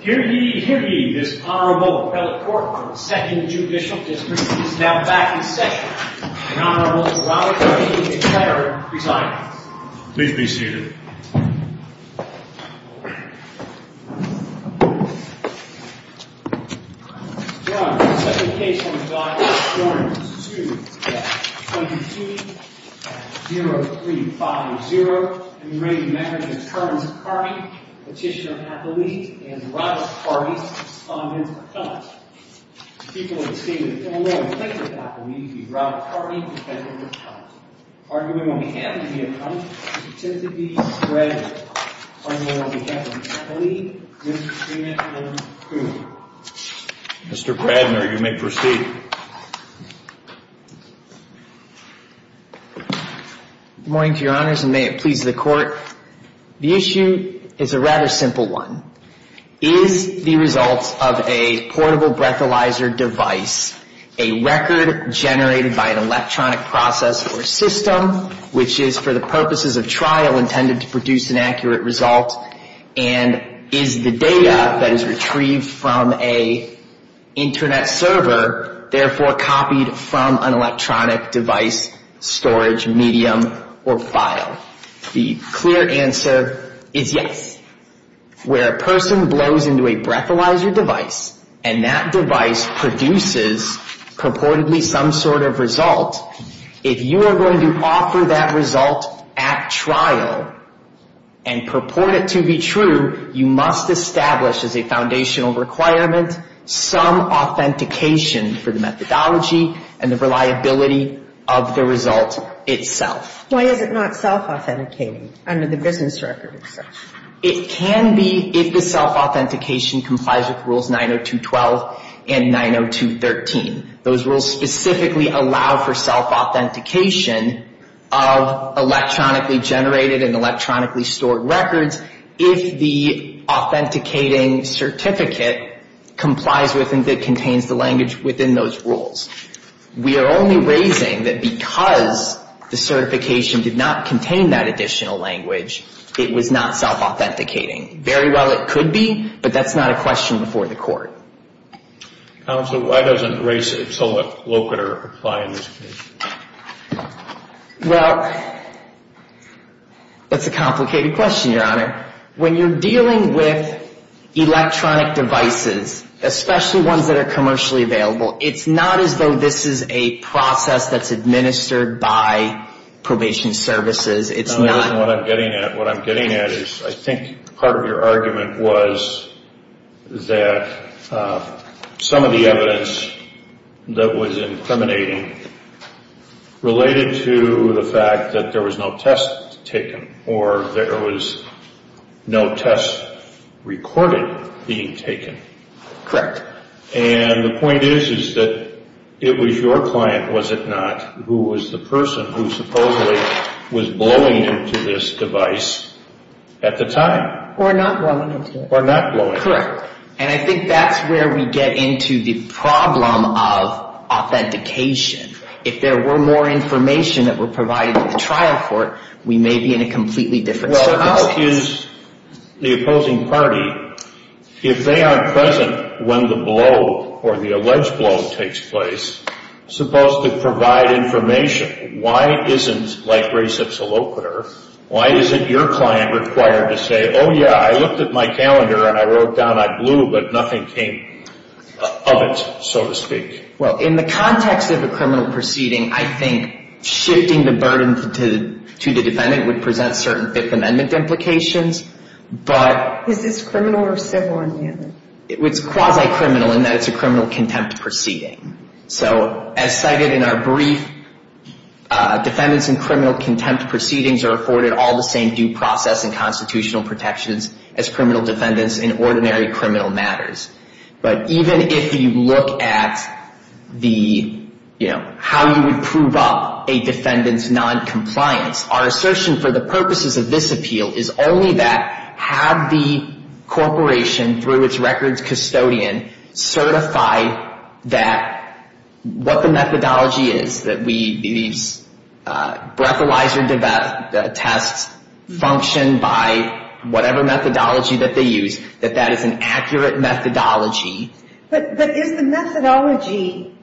Here ye, here ye, this Honorable Appellate Court of the Second Judicial District is now back in session. The Honorable Robert W. Ketterer presides. Please be seated. Your Honor, the second case on the docket, Your Honor, is 2-22-0-3-5-0. I'm ready to measure the terms of Carty, Petitioner Appellate, and Robert Carty's respondent accounts. The people of the State of Illinois think that Appellate would be Robert Carty, Petitioner Appellate. The argument on behalf of the accountants is that it should be spread on the behalf of Appellate, Mr. Kramer, and Coon. Mr. Kradner, you may proceed. Good morning, Your Honors, and may it please the Court. The issue is a rather simple one. Is the result of a portable breathalyzer device a record generated by an electronic process or system, which is for the purposes of trial intended to produce an accurate result, and is the data that is retrieved from an Internet server therefore copied from an electronic device, storage medium, or file? The clear answer is yes. Where a person blows into a breathalyzer device and that device produces purportedly some sort of result, if you are going to offer that result at trial and purport it to be true, you must establish as a foundational requirement some authentication for the methodology and the reliability of the result itself. Why is it not self-authenticating under the business record itself? It can be if the self-authentication complies with Rules 902.12 and 902.13. Those rules specifically allow for self-authentication of electronically generated and electronically stored records if the authenticating certificate complies with and contains the language within those rules. We are only raising that because the certification did not contain that additional language, it was not self-authenticating. Very well it could be, but that's not a question before the Court. Counsel, why doesn't race it somewhat local or apply in this case? Well, that's a complicated question, Your Honor. When you're dealing with electronic devices, especially ones that are commercially available, it's not as though this is a process that's administered by probation services. No, that isn't what I'm getting at. What I'm getting at is I think part of your argument was that some of the evidence that was incriminating related to the fact that there was no test taken or there was no test recorded being taken. Correct. And the point is is that it was your client, was it not, who was the person who supposedly was blowing into this device at the time. Or not blowing into it. Or not blowing into it. Correct. And I think that's where we get into the problem of authentication. If there were more information that were provided at the trial court, we may be in a completely different circumstance. Well, how is the opposing party, if they aren't present when the blow or the alleged blow takes place, supposed to provide information? Why isn't, like race, it's a locator? Why is it your client required to say, oh, yeah, I looked at my calendar and I wrote down I blew, but nothing came of it, so to speak? Well, in the context of a criminal proceeding, I think shifting the burden to the defendant would present certain Fifth Amendment implications. Is this criminal or civil? It's quasi-criminal in that it's a criminal contempt proceeding. So as cited in our brief, defendants in criminal contempt proceedings are afforded all the same due process and constitutional protections as criminal defendants in ordinary criminal matters. But even if you look at the, you know, how you would prove up a defendant's noncompliance, our assertion for the purposes of this appeal is only that have the corporation, through its records custodian, certify that what the methodology is, that these breathalyzer tests function by whatever methodology that they use, that that is an accurate methodology. But is the methodology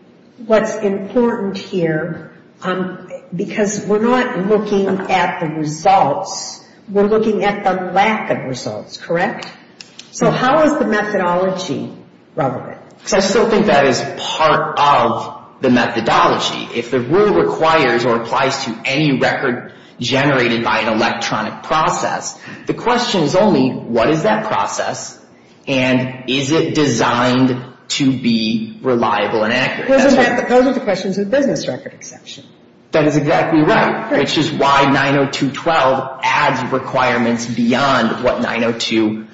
what's important here? Because we're not looking at the results. We're looking at the lack of results, correct? So how is the methodology relevant? Because I still think that is part of the methodology. If the rule requires or applies to any record generated by an electronic process, the question is only what is that process and is it designed to be reliable and accurate? Those are the questions of the business record exception. That is exactly right, which is why 902.12 adds requirements beyond what 902.11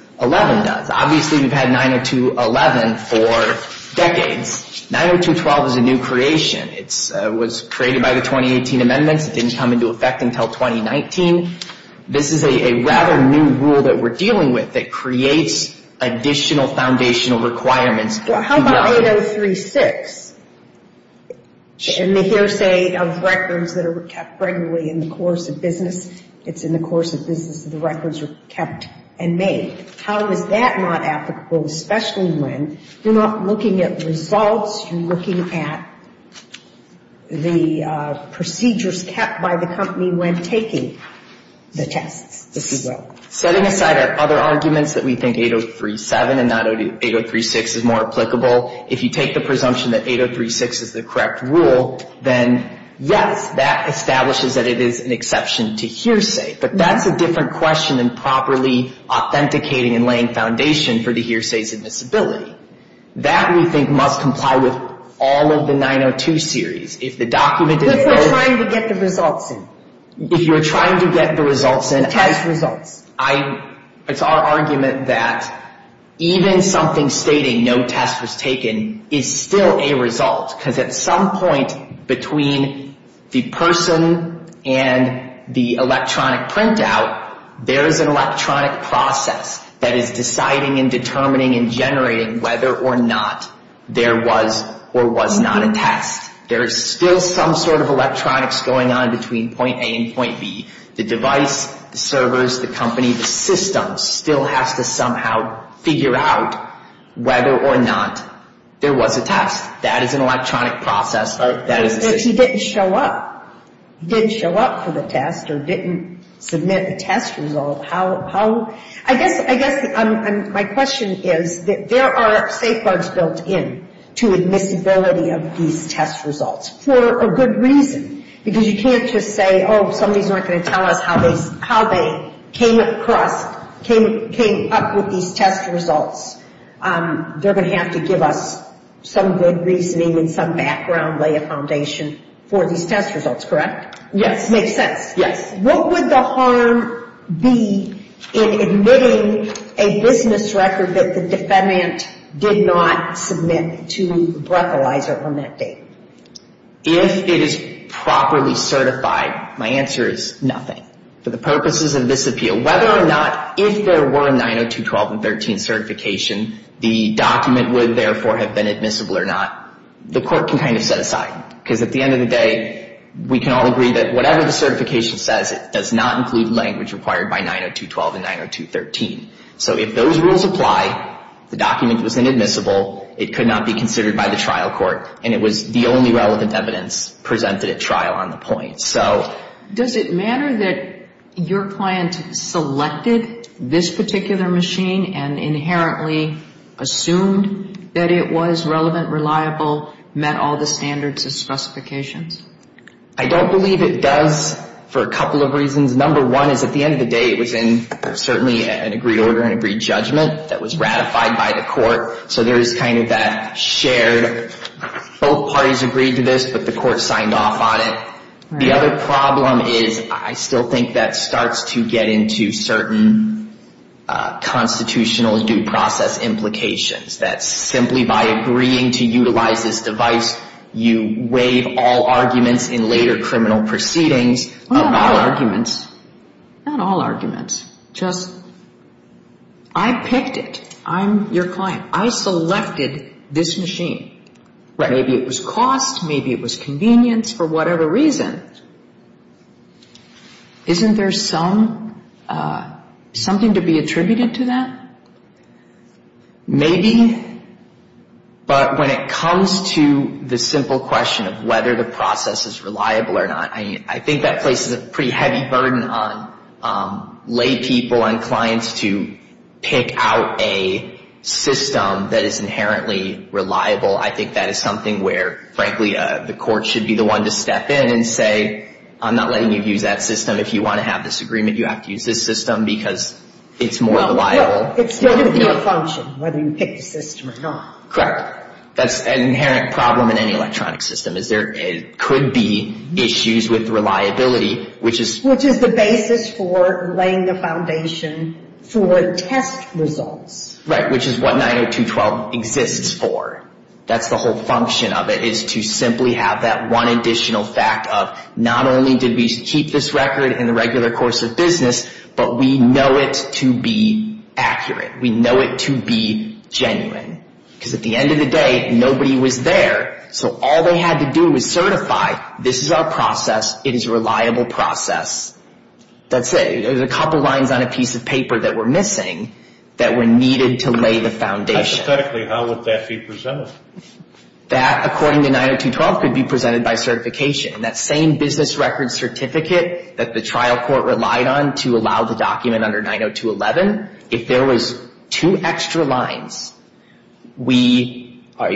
does. Obviously, we've had 902.11 for decades. 902.12 is a new creation. It was created by the 2018 amendments. It didn't come into effect until 2019. This is a rather new rule that we're dealing with that creates additional foundational requirements. Well, how about 803.6? In the hearsay of records that are kept regularly in the course of business, it's in the course of business that the records are kept and made. How is that not applicable, especially when you're not looking at results, you're looking at the procedures kept by the company when taking the tests as well? Setting aside our other arguments that we think 803.7 and not 803.6 is more applicable, if you take the presumption that 803.6 is the correct rule, then, yes, that establishes that it is an exception to hearsay. But that's a different question than properly authenticating and laying foundation for the hearsays and disability. That, we think, must comply with all of the 902 series. If the document is... If we're trying to get the results in. If you're trying to get the results in... Test results. It's our argument that even something stating no test was taken is still a result, because at some point between the person and the electronic printout, there is an electronic process that is deciding and determining and generating whether or not there was or was not a test. There is still some sort of electronics going on between point A and point B. The device, the servers, the company, the system still has to somehow figure out whether or not there was a test. That is an electronic process. If he didn't show up for the test or didn't submit a test result, how... I guess my question is that there are safeguards built in to admissibility of these test results for a good reason, because you can't just say, oh, somebody's not going to tell us how they came across, came up with these test results. They're going to have to give us some good reasoning and some background, lay a foundation for these test results, correct? Yes. Makes sense. Yes. What would the harm be in admitting a business record that the defendant did not submit to the breathalyzer on that date? If it is properly certified, my answer is nothing. For the purposes of this appeal, whether or not if there were a 902.12 and 902.13 certification, the document would therefore have been admissible or not, the court can kind of set aside. Because at the end of the day, we can all agree that whatever the certification says, it does not include language required by 902.12 and 902.13. So if those rules apply, the document was inadmissible, it could not be considered by the trial court, and it was the only relevant evidence presented at trial on the point. Does it matter that your client selected this particular machine and inherently assumed that it was relevant, reliable, met all the standards and specifications? I don't believe it does for a couple of reasons. Number one is at the end of the day, it was in certainly an agreed order, an agreed judgment, that was ratified by the court. So there is kind of that shared, both parties agreed to this, but the court signed off on it. The other problem is I still think that starts to get into certain constitutional due process implications, that simply by agreeing to utilize this device, you waive all arguments in later criminal proceedings. Well, not all arguments. Not all arguments. Just I picked it. I'm your client. I selected this machine. Maybe it was cost, maybe it was convenience, for whatever reason. Isn't there something to be attributed to that? Maybe. But when it comes to the simple question of whether the process is reliable or not, I think that places a pretty heavy burden on laypeople and clients to pick out a system that is inherently reliable. I think that is something where, frankly, the court should be the one to step in and say, I'm not letting you use that system. If you want to have this agreement, you have to use this system because it's more reliable. Well, it's still going to be a function, whether you pick the system or not. Correct. That's an inherent problem in any electronic system is there could be issues with reliability, which is Which is the basis for laying the foundation for test results. Right, which is what 90212 exists for. That's the whole function of it, is to simply have that one additional fact of, not only did we keep this record in the regular course of business, but we know it to be accurate. We know it to be genuine. Because at the end of the day, nobody was there, so all they had to do was certify, this is our process, it is a reliable process. That's it. There's a couple lines on a piece of paper that were missing that were needed to lay the foundation. Hypothetically, how would that be presented? That, according to 90212, could be presented by certification. That same business record certificate that the trial court relied on to allow the document under 90211, if there was two extra lines, we, our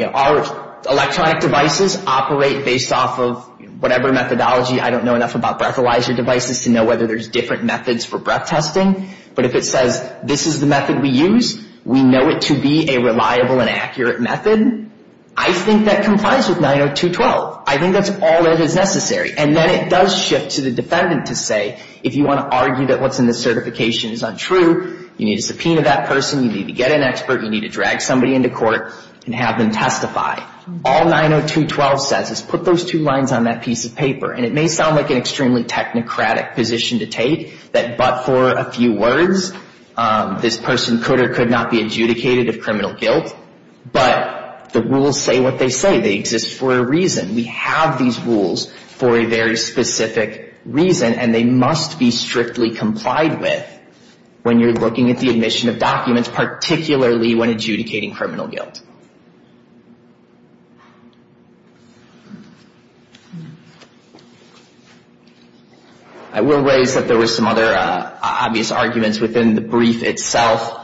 electronic devices operate based off of whatever methodology. I don't know enough about breathalyzer devices to know whether there's different methods for breath testing. But if it says, this is the method we use, we know it to be a reliable and accurate method, I think that complies with 90212. I think that's all that is necessary. And then it does shift to the defendant to say, if you want to argue that what's in the certification is untrue, you need to subpoena that person, you need to get an expert, you need to drag somebody into court and have them testify. All 90212 says is put those two lines on that piece of paper. And it may sound like an extremely technocratic position to take, that but for a few words, this person could or could not be adjudicated of criminal guilt. But the rules say what they say. They exist for a reason. We have these rules for a very specific reason, and they must be strictly complied with when you're looking at the admission of documents, particularly when adjudicating criminal guilt. I will raise that there were some other obvious arguments within the brief itself.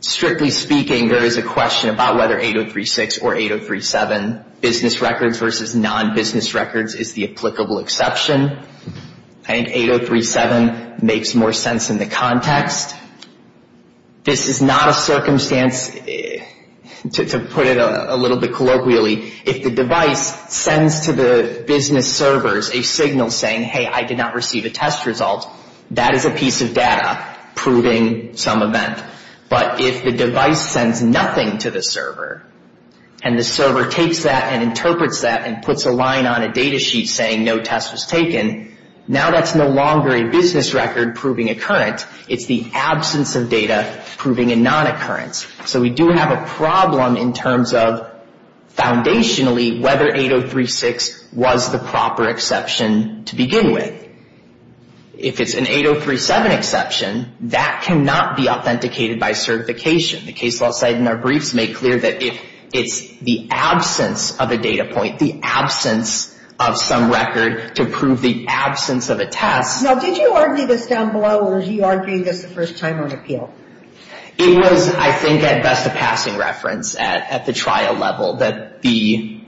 Strictly speaking, there is a question about whether 8036 or 8037, business records versus non-business records, is the applicable exception. I think 8037 makes more sense in the context. This is not a circumstance, to put it a little bit colloquially, if the device sends to the business servers a signal saying, hey, I did not receive a test result, that is a piece of data proving some event. But if the device sends nothing to the server, and the server takes that and interprets that and puts a line on a data sheet saying no test was taken, now that's no longer a business record proving occurrence. It's the absence of data proving a non-occurrence. So we do have a problem in terms of, foundationally, whether 8036 was the proper exception to begin with. If it's an 8037 exception, that cannot be authenticated by certification. The case law side in our briefs make clear that if it's the absence of a data point, the absence of some record to prove the absence of a test. Now, did you argue this down below, or did you argue this the first time on appeal? It was, I think, at best a passing reference at the trial level, that the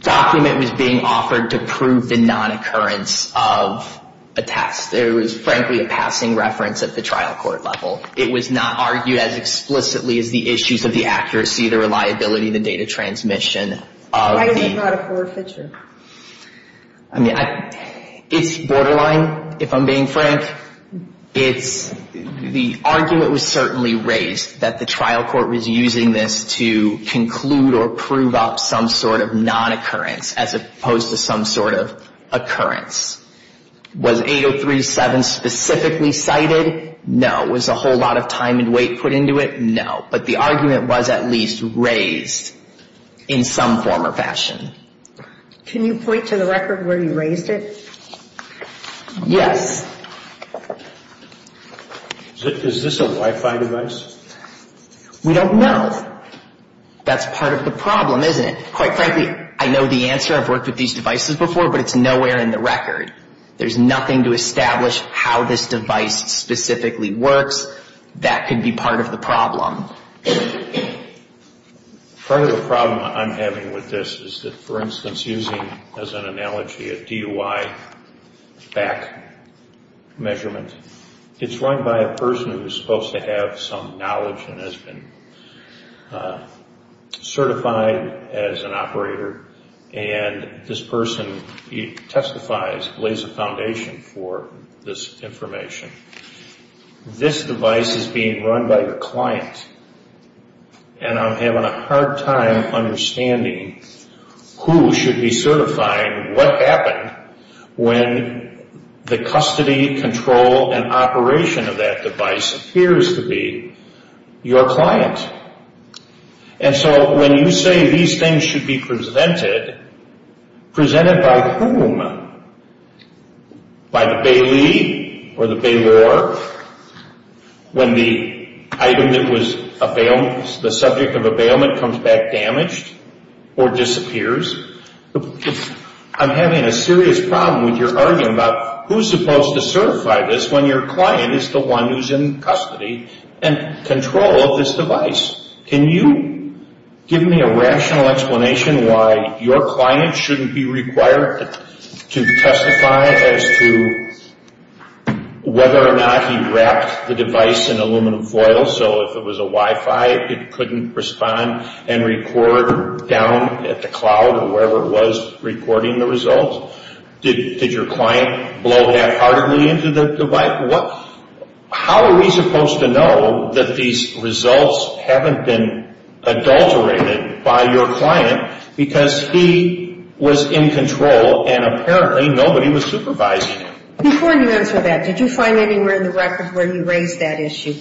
document was being offered to prove the non-occurrence of a test. It was, frankly, a passing reference at the trial court level. It was not argued as explicitly as the issues of the accuracy, the reliability, the data transmission. Why is it not a core feature? I mean, it's borderline, if I'm being frank. The argument was certainly raised that the trial court was using this to conclude or prove up some sort of non-occurrence as opposed to some sort of occurrence. Was 8037 specifically cited? No. Was a whole lot of time and weight put into it? No. But the argument was at least raised in some form or fashion. Can you point to the record where you raised it? Yes. Is this a Wi-Fi device? We don't know. That's part of the problem, isn't it? Quite frankly, I know the answer. I've worked with these devices before, but it's nowhere in the record. There's nothing to establish how this device specifically works. That could be part of the problem. Part of the problem I'm having with this is that, for instance, using as an analogy a DUI back measurement, it's run by a person who is supposed to have some knowledge and has been certified as an operator. And this person testifies, lays a foundation for this information. This device is being run by a client, and I'm having a hard time understanding who should be certifying what happened when the custody control and operation of that device appears to be your client. And so when you say these things should be presented, presented by whom? By the bailee or the bailor? When the item that was the subject of a bailment comes back damaged or disappears? I'm having a serious problem with your argument about who's supposed to certify this when your client is the one who's in custody and control of this device. Can you give me a rational explanation why your client shouldn't be required to testify as to whether or not he wrapped the device in aluminum foil so if it was a Wi-Fi it couldn't respond and record down at the cloud or wherever it was recording the results? Did your client blow half-heartedly into the device? How are we supposed to know that these results haven't been adulterated by your client because he was in control and apparently nobody was supervising him? Before you answer that, did you find anywhere in the records where he raised that issue?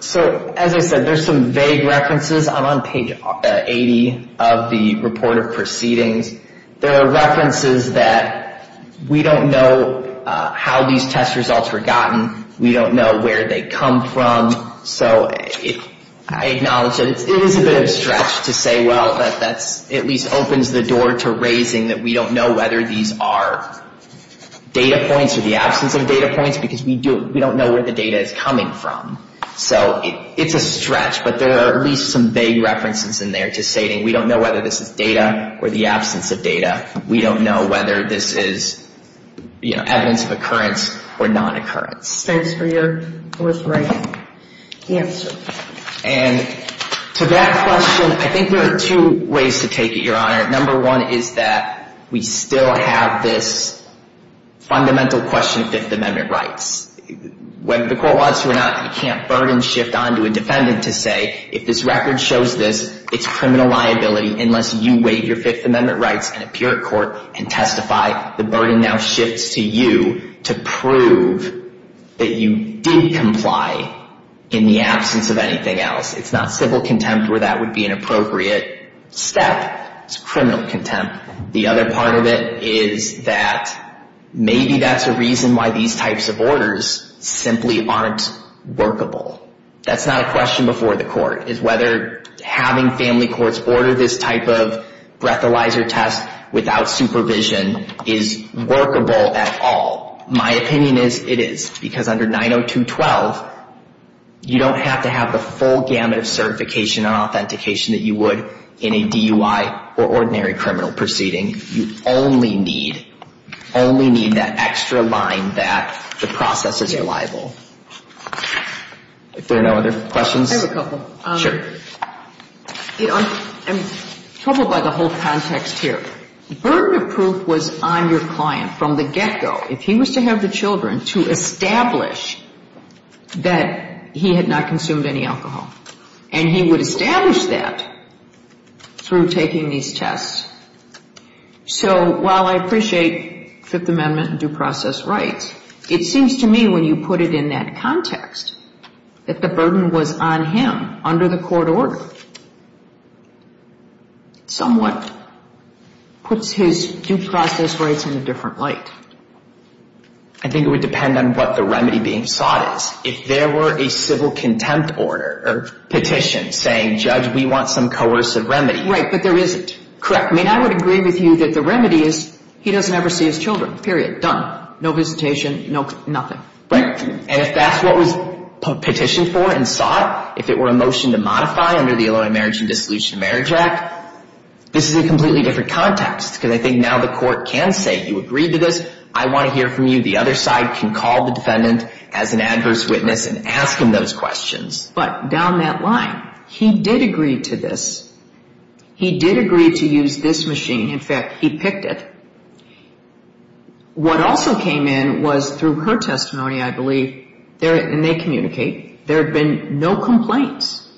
So, as I said, there's some vague references. I'm on page 80 of the report of proceedings. There are references that we don't know how these test results were gotten. We don't know where they come from. So I acknowledge that it is a bit of a stretch to say, well, that at least opens the door to raising that we don't know whether these are data points or the absence of data points because we don't know where the data is coming from. So it's a stretch, but there are at least some vague references in there to say we don't know whether this is data or the absence of data. We don't know whether this is evidence of occurrence or non-occurrence. Thanks for your forthright answer. And to that question, I think there are two ways to take it, Your Honor. Number one is that we still have this fundamental question of Fifth Amendment rights. Whether the court wants to or not, you can't burden shift onto a defendant to say, if this record shows this, it's criminal liability unless you waive your Fifth Amendment rights and appear at court and testify. The burden now shifts to you to prove that you did comply in the absence of anything else. It's not civil contempt where that would be an appropriate step. It's criminal contempt. The other part of it is that maybe that's a reason why these types of orders simply aren't workable. That's not a question before the court, is whether having family courts order this type of breathalyzer test without supervision is workable at all. My opinion is it is, because under 902.12, you don't have to have the full gamut of certification and authentication that you would in a DUI or ordinary criminal proceeding. You only need that extra line that the process is reliable. Are there no other questions? I have a couple. Sure. I'm troubled by the whole context here. Burden of proof was on your client from the get-go. If he was to have the children to establish that he had not consumed any alcohol, and he would establish that through taking these tests. So while I appreciate Fifth Amendment and due process rights, it seems to me when you put it in that context that the burden was on him under the court order. Somewhat puts his due process rights in a different light. I think it would depend on what the remedy being sought is. If there were a civil contempt order or petition saying, Judge, we want some coercive remedy. Right, but there isn't. Correct. I mean, I would agree with you that the remedy is he doesn't ever see his children. Period. Done. No visitation. Nothing. Right. And if that's what was petitioned for and sought, if it were a motion to modify under the Illinois Marriage and Dissolution of Marriage Act, this is a completely different context, because I think now the court can say, you agreed to this. I want to hear from you. The other side can call the defendant as an adverse witness and ask him those questions. But down that line, he did agree to this. He did agree to use this machine. In fact, he picked it. What also came in was through her testimony, I believe, and they communicate, there have been no complaints.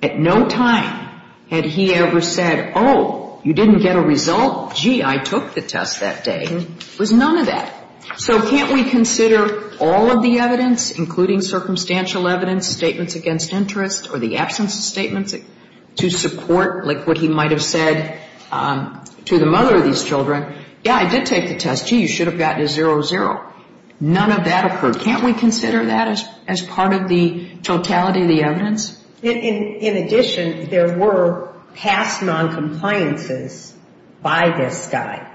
At no time had he ever said, oh, you didn't get a result. Gee, I took the test that day. There was none of that. So can't we consider all of the evidence, including circumstantial evidence, statements against interest, or the absence of statements to support, like, what he might have said to the mother of these children? Yeah, I did take the test. Gee, you should have gotten a 0-0. None of that occurred. Can't we consider that as part of the totality of the evidence? In addition, there were past noncompliances by this guy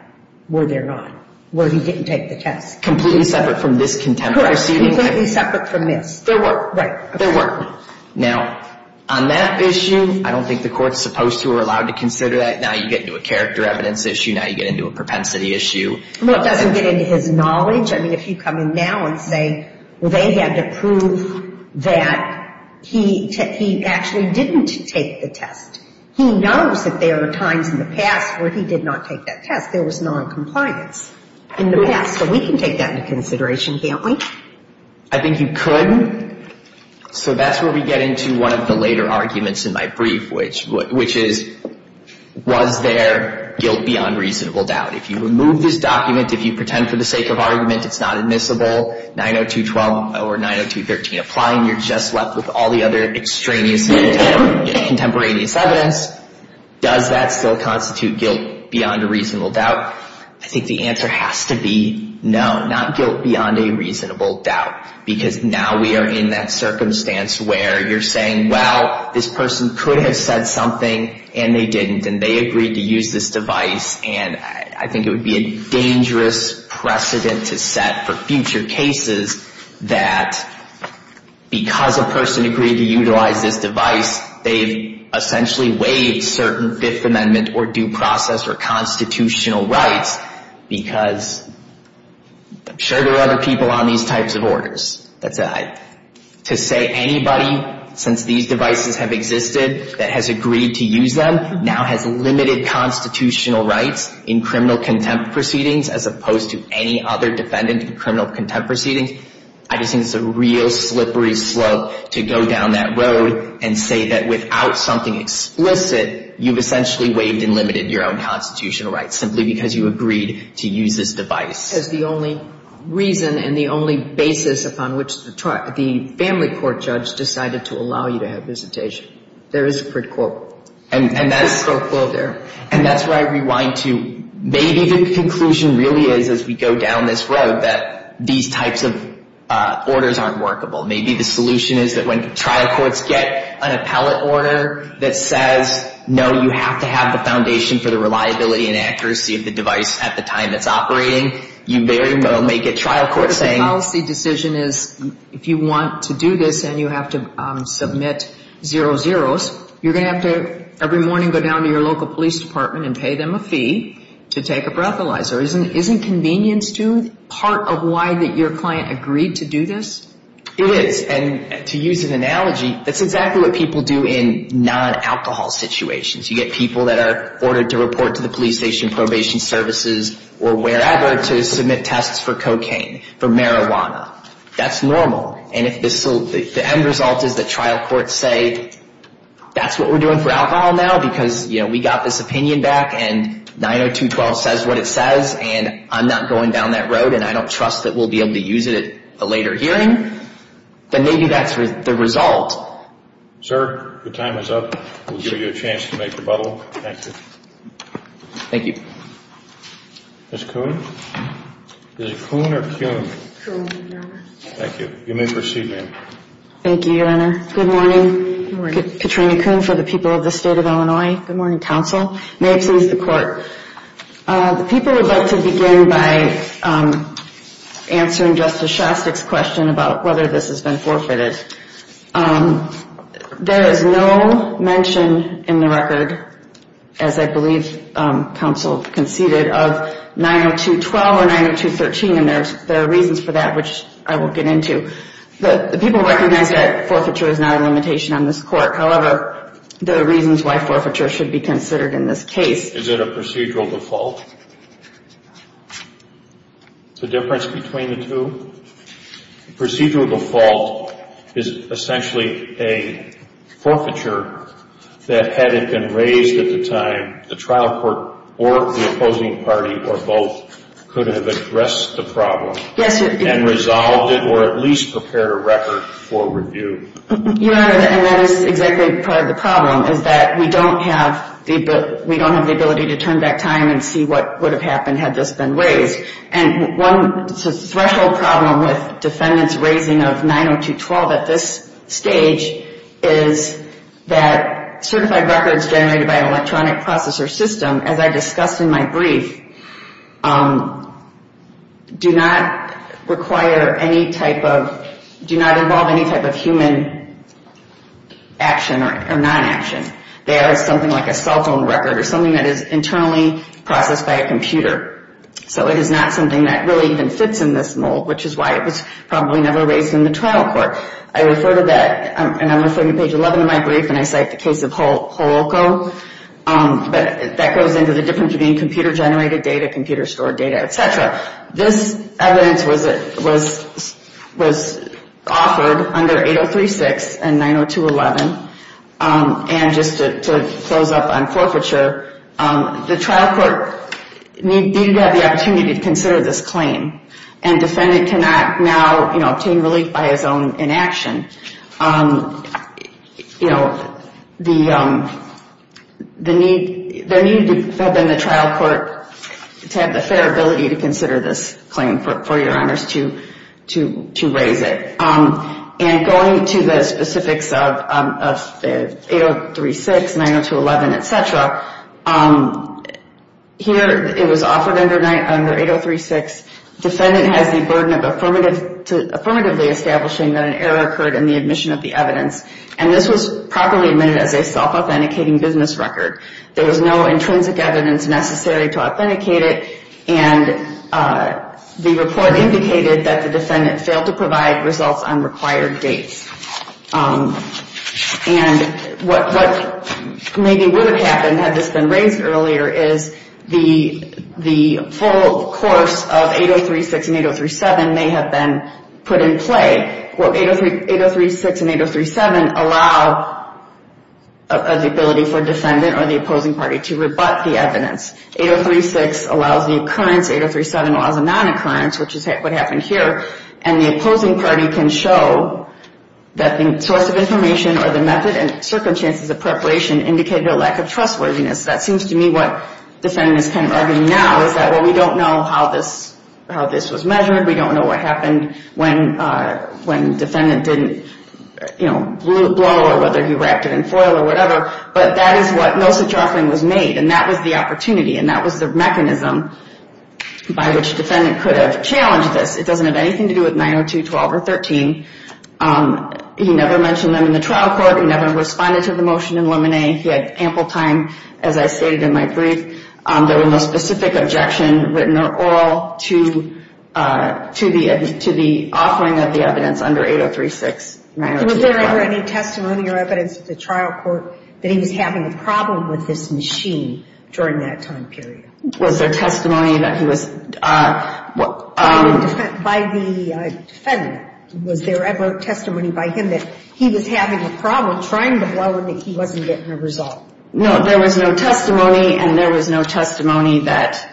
where they're not, where he didn't take the test. Completely separate from this contemporary. Correct. Completely separate from this. There were. Right. There were. Now, on that issue, I don't think the court's supposed to or allowed to consider that. Now you get into a character evidence issue. Now you get into a propensity issue. Well, it doesn't get into his knowledge. I mean, if you come in now and say, well, they had to prove that he actually didn't take the test, he knows that there were times in the past where he did not take that test. There was noncompliance in the past. So we can take that into consideration, can't we? I think you could. So that's where we get into one of the later arguments in my brief, which is, was there guilt beyond reasonable doubt? If you remove this document, if you pretend for the sake of argument it's not admissible, 90212 or 90213 applying, you're just left with all the other extraneous contemporaneous evidence. Does that still constitute guilt beyond a reasonable doubt? I think the answer has to be no, not guilt beyond a reasonable doubt, because now we are in that circumstance where you're saying, well, this person could have said something and they didn't, and they agreed to use this device. And I think it would be a dangerous precedent to set for future cases that, because a person agreed to utilize this device, they've essentially waived certain Fifth Amendment or due process or constitutional rights, because I'm sure there are other people on these types of orders. To say anybody, since these devices have existed, that has agreed to use them, now has limited constitutional rights in criminal contempt proceedings, as opposed to any other defendant in criminal contempt proceedings, I just think it's a real slippery slope to go down that road and say that without something explicit, you've essentially waived and limited your own constitutional rights simply because you agreed to use this device. Because the only reason and the only basis upon which the family court judge decided to allow you to have visitation, there is a quick quote there. And that's where I rewind to, maybe the conclusion really is, as we go down this road, that these types of orders aren't workable. Maybe the solution is that when trial courts get an appellate order that says, no, you have to have the foundation for the reliability and accuracy of the device at the time it's operating, you very well may get trial court saying. The policy decision is if you want to do this and you have to submit 00s, you're going to have to every morning go down to your local police department and pay them a fee to take a breathalyzer. Isn't convenience due part of why your client agreed to do this? It is. And to use an analogy, that's exactly what people do in non-alcohol situations. You get people that are ordered to report to the police station, probation services, or wherever to submit tests for cocaine, for marijuana. That's normal. And if the end result is that trial courts say, that's what we're doing for alcohol now because, you know, we got this opinion back and 90212 says what it says and I'm not going down that road and I don't trust that we'll be able to use it at a later hearing, then maybe that's the result. Sir, the time is up. We'll give you a chance to make your bubble. Thank you. Ms. Kuhn? Is it Kuhn or Kuhn? Kuhn, Your Honor. You may proceed, ma'am. Thank you, Your Honor. Good morning. Good morning. Katrina Kuhn for the people of the State of Illinois. Good morning, counsel. May it please the Court. The people would like to begin by answering Justice Shostak's question about whether this has been forfeited. There is no mention in the record, as I believe counsel conceded, of 90212 or 90213, and there are reasons for that, which I will get into. The people recognize that forfeiture is not a limitation on this court. However, there are reasons why forfeiture should be considered in this case. Is it a procedural default? The difference between the two? Procedural default is essentially a forfeiture that, had it been raised at the time, the trial court or the opposing party or both could have addressed the problem and resolved it or at least prepared a record for review. Your Honor, and that is exactly part of the problem, is that we don't have the ability to turn back time and see what would have happened had this been raised. And one threshold problem with defendants raising of 90212 at this stage is that certified records generated by an electronic processor system, as I discussed in my brief, do not involve any type of human action or non-action. They are something like a cell phone record or something that is internally processed by a computer. So it is not something that really even fits in this mold, which is why it was probably never raised in the trial court. I refer to that, and I'm referring to page 11 of my brief, and I cite the case of Holoko. But that goes into the difference between computer-generated data, computer-stored data, etc. This evidence was offered under 8036 and 90211. And just to close up on forfeiture, the trial court needed to have the opportunity to consider this claim. And defendant cannot now obtain relief by his own inaction. There needed to have been the trial court to have the fair ability to consider this claim, for Your Honors, to raise it. And going to the specifics of 8036, 90211, etc., here it was offered under 8036. Defendant has the burden of affirmatively establishing that an error occurred in the admission of the evidence. And this was properly admitted as a self-authenticating business record. There was no intrinsic evidence necessary to authenticate it, and the report indicated that the defendant failed to provide results on required dates. And what maybe would have happened had this been raised earlier is the full course of 8036 and 8037 may have been put in play. 8036 and 8037 allow the ability for defendant or the opposing party to rebut the evidence. 8036 allows the occurrence. 8037 allows the non-occurrence, which is what happened here. And the opposing party can show that the source of information or the method and circumstances of preparation indicated a lack of trustworthiness. That seems to me what defendants can argue now is that, well, we don't know how this was measured. We don't know what happened when defendant didn't, you know, blow or whether he wrapped it in foil or whatever. But that is what no such offering was made, and that was the opportunity, and that was the mechanism by which defendant could have challenged this. It doesn't have anything to do with 902.12 or 13. He never mentioned them in the trial court. He never responded to the motion in Lemonnet. He had ample time, as I stated in my brief. There was no specific objection written or oral to the offering of the evidence under 8036. Was there ever any testimony or evidence at the trial court that he was having a problem with this machine during that time period? Was there testimony that he was? By the defendant. Was there ever testimony by him that he was having a problem trying to blow and that he wasn't getting a result? No, there was no testimony, and there was no testimony that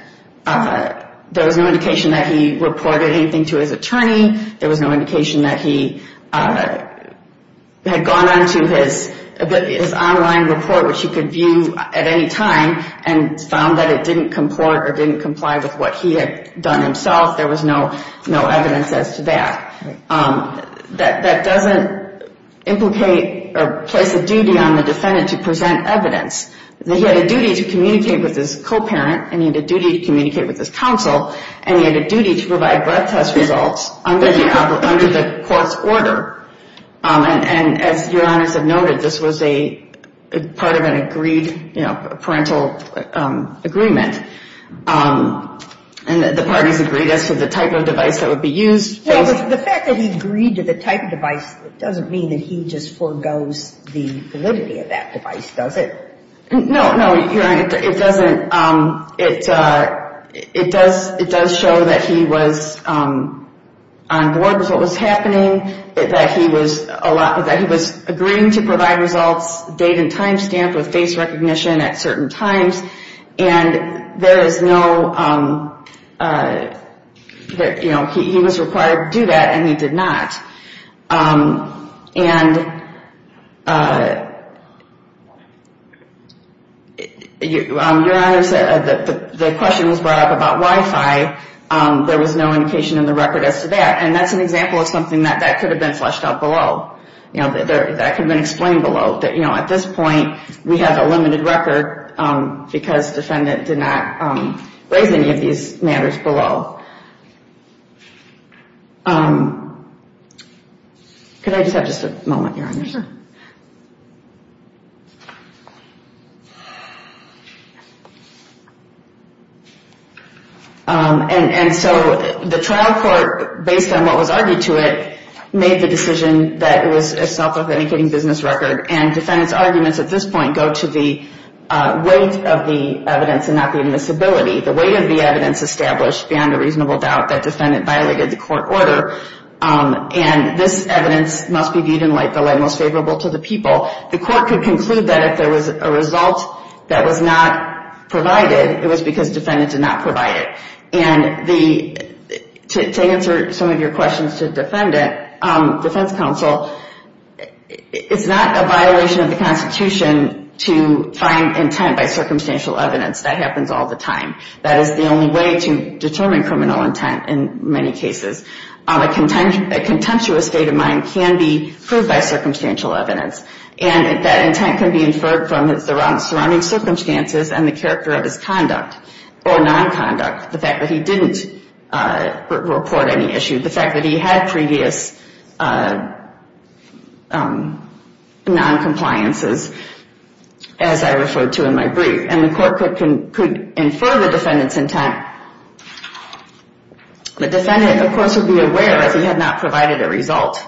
there was no indication that he reported anything to his attorney. There was no indication that he had gone on to his online report, which he could view at any time, and found that it didn't comport or didn't comply with what he had done himself. There was no evidence as to that. That doesn't implicate or place a duty on the defendant to present evidence. He had a duty to communicate with his co-parent, and he had a duty to communicate with his counsel, and he had a duty to provide breath test results under the court's order. And as Your Honor has noted, this was a part of an agreed, you know, parental agreement. And the parties agreed as to the type of device that would be used. The fact that he agreed to the type of device doesn't mean that he just forgoes the validity of that device, does it? No, Your Honor, it doesn't. It does show that he was on board with what was happening, that he was agreeing to provide results, date and time stamped with face recognition at certain times. And there is no, you know, he was required to do that, and he did not. And, Your Honor, the question was brought up about Wi-Fi. There was no indication in the record as to that. And that's an example of something that could have been fleshed out below. You know, that could have been explained below. You know, at this point, we have a limited record because the defendant did not raise any of these matters below. Could I just have just a moment, Your Honor? Sure. And so the trial court, based on what was argued to it, made the decision that it was a self-authenticating business record. And defendants' arguments at this point go to the weight of the evidence and not the admissibility. The weight of the evidence established beyond a reasonable doubt that defendant violated the court order. And this evidence must be viewed in light, the light most favorable to the people. The court could conclude that if there was a result that was not provided, it was because defendant did not provide it. And to answer some of your questions to the defendant, defense counsel, it's not a violation of the Constitution to find intent by circumstantial evidence. That happens all the time. That is the only way to determine criminal intent in many cases. A contemptuous state of mind can be proved by circumstantial evidence. And that intent can be inferred from the surrounding circumstances and the character of his conduct or nonconduct. The fact that he didn't report any issue. The fact that he had previous noncompliances, as I referred to in my brief. And the court could infer the defendant's intent. The defendant, of course, would be aware that he had not provided a result.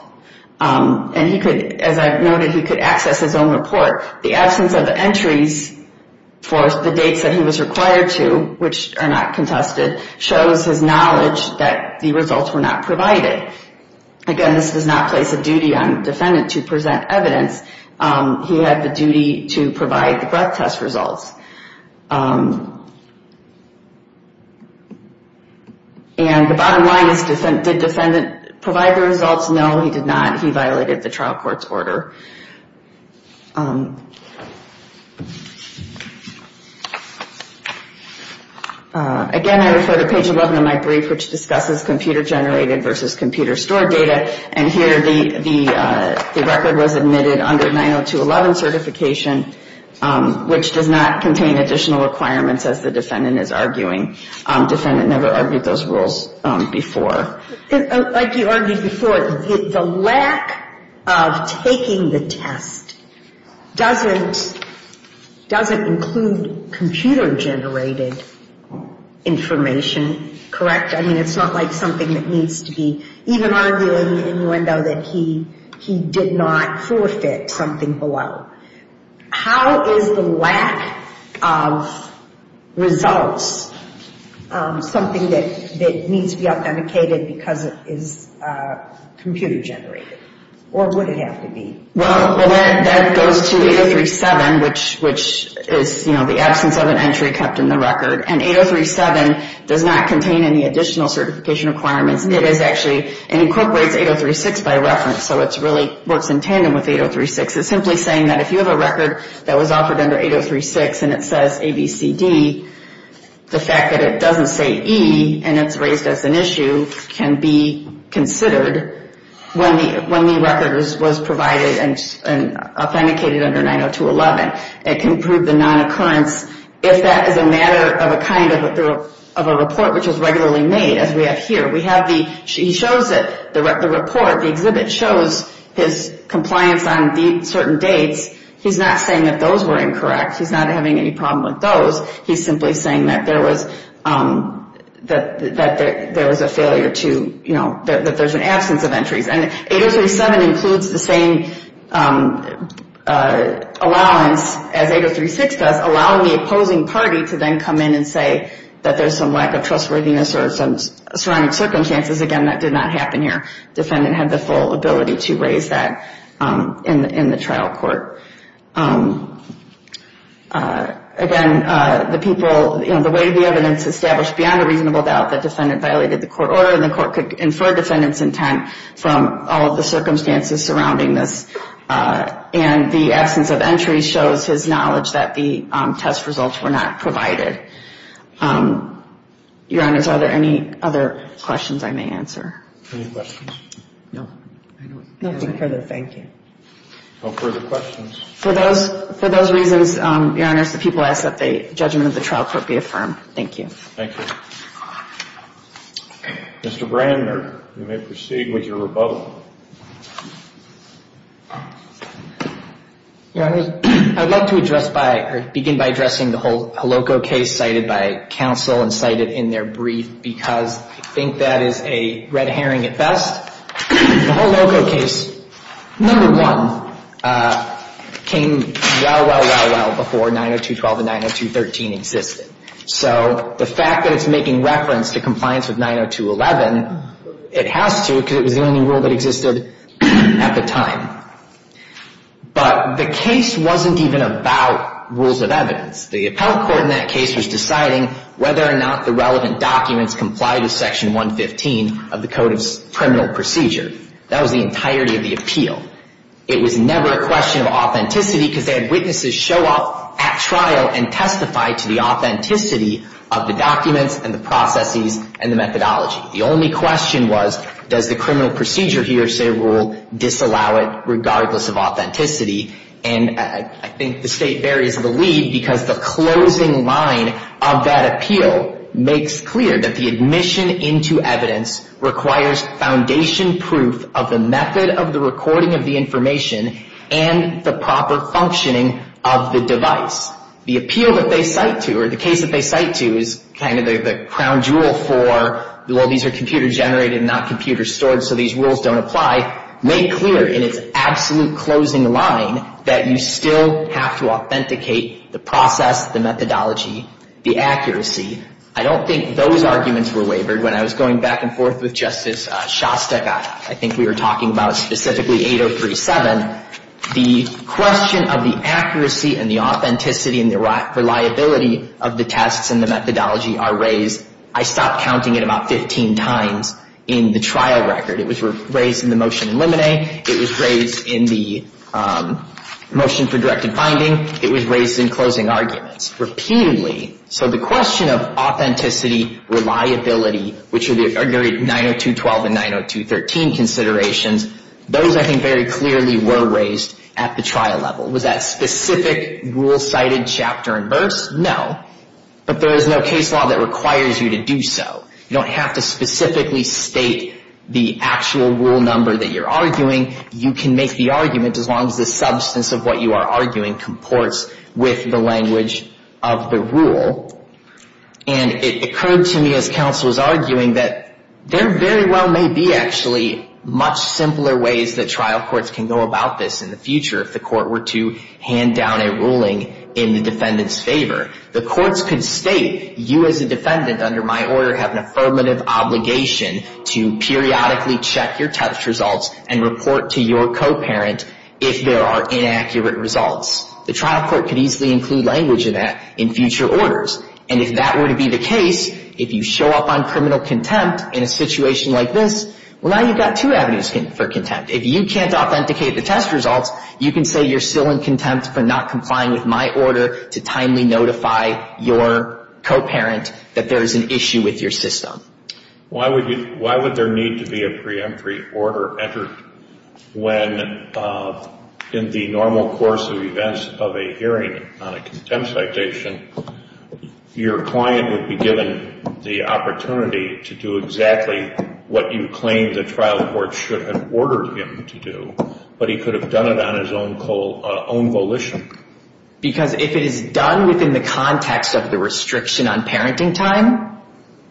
And he could, as I've noted, he could access his own report. The absence of entries for the dates that he was required to, which are not contested, shows his knowledge that the results were not provided. Again, this does not place a duty on the defendant to present evidence. He had the duty to provide the breath test results. And the bottom line is, did defendant provide the results? No, he did not. He violated the trial court's order. Again, I refer to page 11 of my brief, which discusses computer-generated versus computer-stored data. And here the record was admitted under 902.11 certification, which does not contain additional requirements as the defendant is arguing. Defendant never argued those rules before. Like you argued before, the lack of taking the test doesn't include computer-generated information, correct? I mean, it's not like something that needs to be, even arguing in Muendo that he did not forfeit something below. How is the lack of results something that needs to be authenticated because it is computer-generated? Or would it have to be? Well, that goes to 803.7, which is the absence of an entry kept in the record. And 803.7 does not contain any additional certification requirements. It incorporates 803.6 by reference, so it really works in tandem with 803.6. It's simply saying that if you have a record that was offered under 803.6 and it says ABCD, the fact that it doesn't say E and it's raised as an issue can be considered when the record was provided and authenticated under 902.11. It can prove the non-occurrence if that is a matter of a kind of a report which is regularly made, as we have here. He shows it, the report, the exhibit shows his compliance on certain dates. He's not saying that those were incorrect. He's not having any problem with those. He's simply saying that there was a failure to, you know, that there's an absence of entries. And 803.7 includes the same allowance as 803.6 does, allowing the opposing party to then come in and say that there's some lack of trustworthiness or some surrounding circumstances. Again, that did not happen here. Defendant had the full ability to raise that in the trial court. Again, the people, you know, the way the evidence established beyond a reasonable doubt that defendant violated the court order and the court could infer defendant's intent from all of the circumstances surrounding this. And the absence of entries shows his knowledge that the test results were not provided. Your Honors, are there any other questions I may answer? Any questions? No. Nothing further. Thank you. No further questions. For those reasons, Your Honors, the people ask that the judgment of the trial court be affirmed. Thank you. Thank you. Mr. Brandner, you may proceed with your rebuttal. Your Honors, I'd like to begin by addressing the whole Holoco case cited by counsel and cited in their brief because I think that is a red herring at best. The Holoco case, number one, came well, well, well, well before 902.12 and 902.13 existed. So the fact that it's making reference to compliance with 902.11, it has to because it was the only rule that existed at the time. But the case wasn't even about rules of evidence. The appellate court in that case was deciding whether or not the relevant documents complied with Section 115 of the Code of Criminal Procedure. It was never a question of authenticity because they had witnesses show up at trial and testify to the authenticity of the documents and the processes and the methodology. The only question was, does the criminal procedure here say rule disallow it regardless of authenticity? And I think the State varies the lead because the closing line of that appeal makes clear that the admission into evidence requires foundation proof of the method of the recording of the information and the proper functioning of the device. The appeal that they cite to or the case that they cite to is kind of the crown jewel for, well, these are computer generated and not computer stored, so these rules don't apply, make clear in its absolute closing line that you still have to authenticate the process, the methodology, the accuracy. I don't think those arguments were wavered when I was going back and forth with Justice Shostakoff. I think we were talking about specifically 8037. The question of the accuracy and the authenticity and the reliability of the tests and the methodology are raised. I stopped counting it about 15 times in the trial record. It was raised in the motion in Limine. It was raised in the motion for directed finding. It was raised in closing arguments repeatedly. So the question of authenticity, reliability, which are the 902.12 and 902.13 considerations, those I think very clearly were raised at the trial level. Was that specific rule cited chapter and verse? No, but there is no case law that requires you to do so. You don't have to specifically state the actual rule number that you're arguing. You can make the argument as long as the substance of what you are arguing comports with the language of the rule. And it occurred to me as counsel was arguing that there very well may be actually much simpler ways that trial courts can go about this in the future if the court were to hand down a ruling in the defendant's favor. The courts could state you as a defendant under my order have an affirmative obligation to periodically check your test results and report to your co-parent if there are inaccurate results. The trial court could easily include language in that in future orders. And if that were to be the case, if you show up on criminal contempt in a situation like this, well, now you've got two avenues for contempt. If you can't authenticate the test results, you can say you're still in contempt for not complying with my order to timely notify your co-parent that there is an issue with your system. Why would there need to be a preemptory order entered when in the normal course of events of a hearing on a contempt citation, your client would be given the opportunity to do exactly what you claim the trial court should have ordered him to do, but he could have done it on his own volition? Because if it is done within the context of the restriction on parenting time,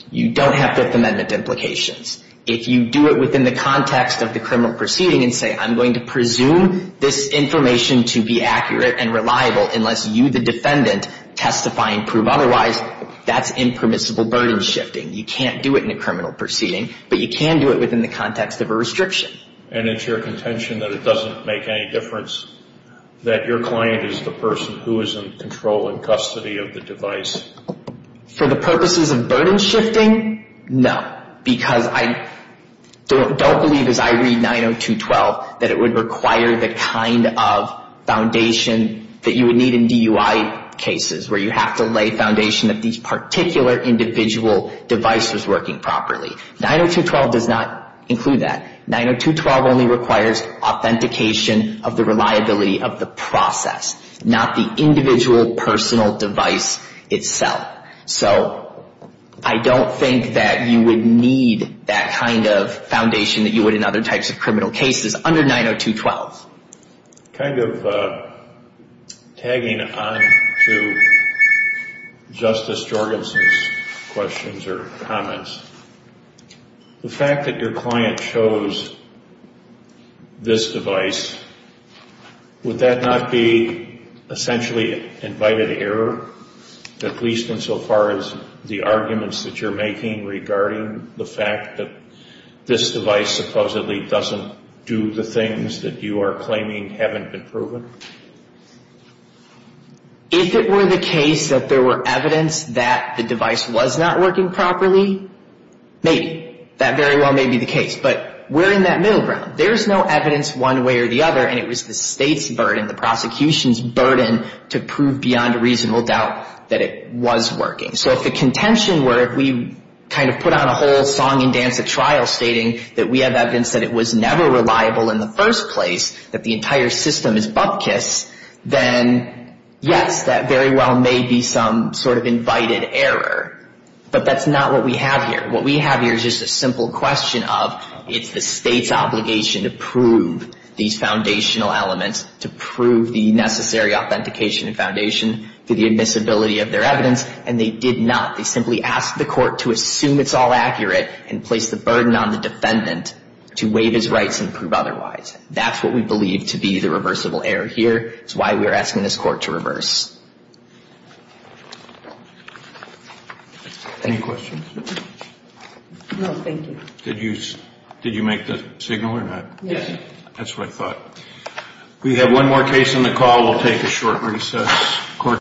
you don't have Fifth Amendment implications. If you do it within the context of the criminal proceeding and say, I'm going to presume this information to be accurate and reliable unless you, the defendant, testify and prove otherwise, that's impermissible burden shifting. You can't do it in a criminal proceeding, but you can do it within the context of a restriction. And it's your contention that it doesn't make any difference that your client is the person who is in control and custody of the device? For the purposes of burden shifting, no. Because I don't believe, as I read 902.12, that it would require the kind of foundation that you would need in DUI cases, where you have to lay foundation that this particular individual device was working properly. 902.12 does not include that. 902.12 only requires authentication of the reliability of the process, not the individual personal device itself. So I don't think that you would need that kind of foundation that you would in other types of criminal cases under 902.12. Kind of tagging on to Justice Jorgensen's questions or comments, the fact that your client chose this device, would that not be essentially invited error, at least insofar as the arguments that you're making regarding the fact that this device supposedly doesn't do the things that you are claiming haven't been proven? If it were the case that there were evidence that the device was not working properly, maybe. That very well may be the case. But we're in that middle ground. There's no evidence one way or the other, and it was the State's burden, the prosecution's burden, to prove beyond reasonable doubt that it was working. So if the contention were if we kind of put on a whole song and dance at trial stating that we have evidence that it was never reliable in the first place, that the entire system is bupkis, then yes, that very well may be some sort of invited error. But that's not what we have here. What we have here is just a simple question of it's the State's obligation to prove these foundational elements, to prove the necessary authentication and foundation for the admissibility of their evidence, and they did not. They simply asked the court to assume it's all accurate and place the burden on the defendant to waive his rights and prove otherwise. That's what we believe to be the reversible error here. It's why we're asking this court to reverse. Any questions? No, thank you. Did you make the signal or not? Yes. That's what I thought. We have one more case on the call. We'll take a short recess.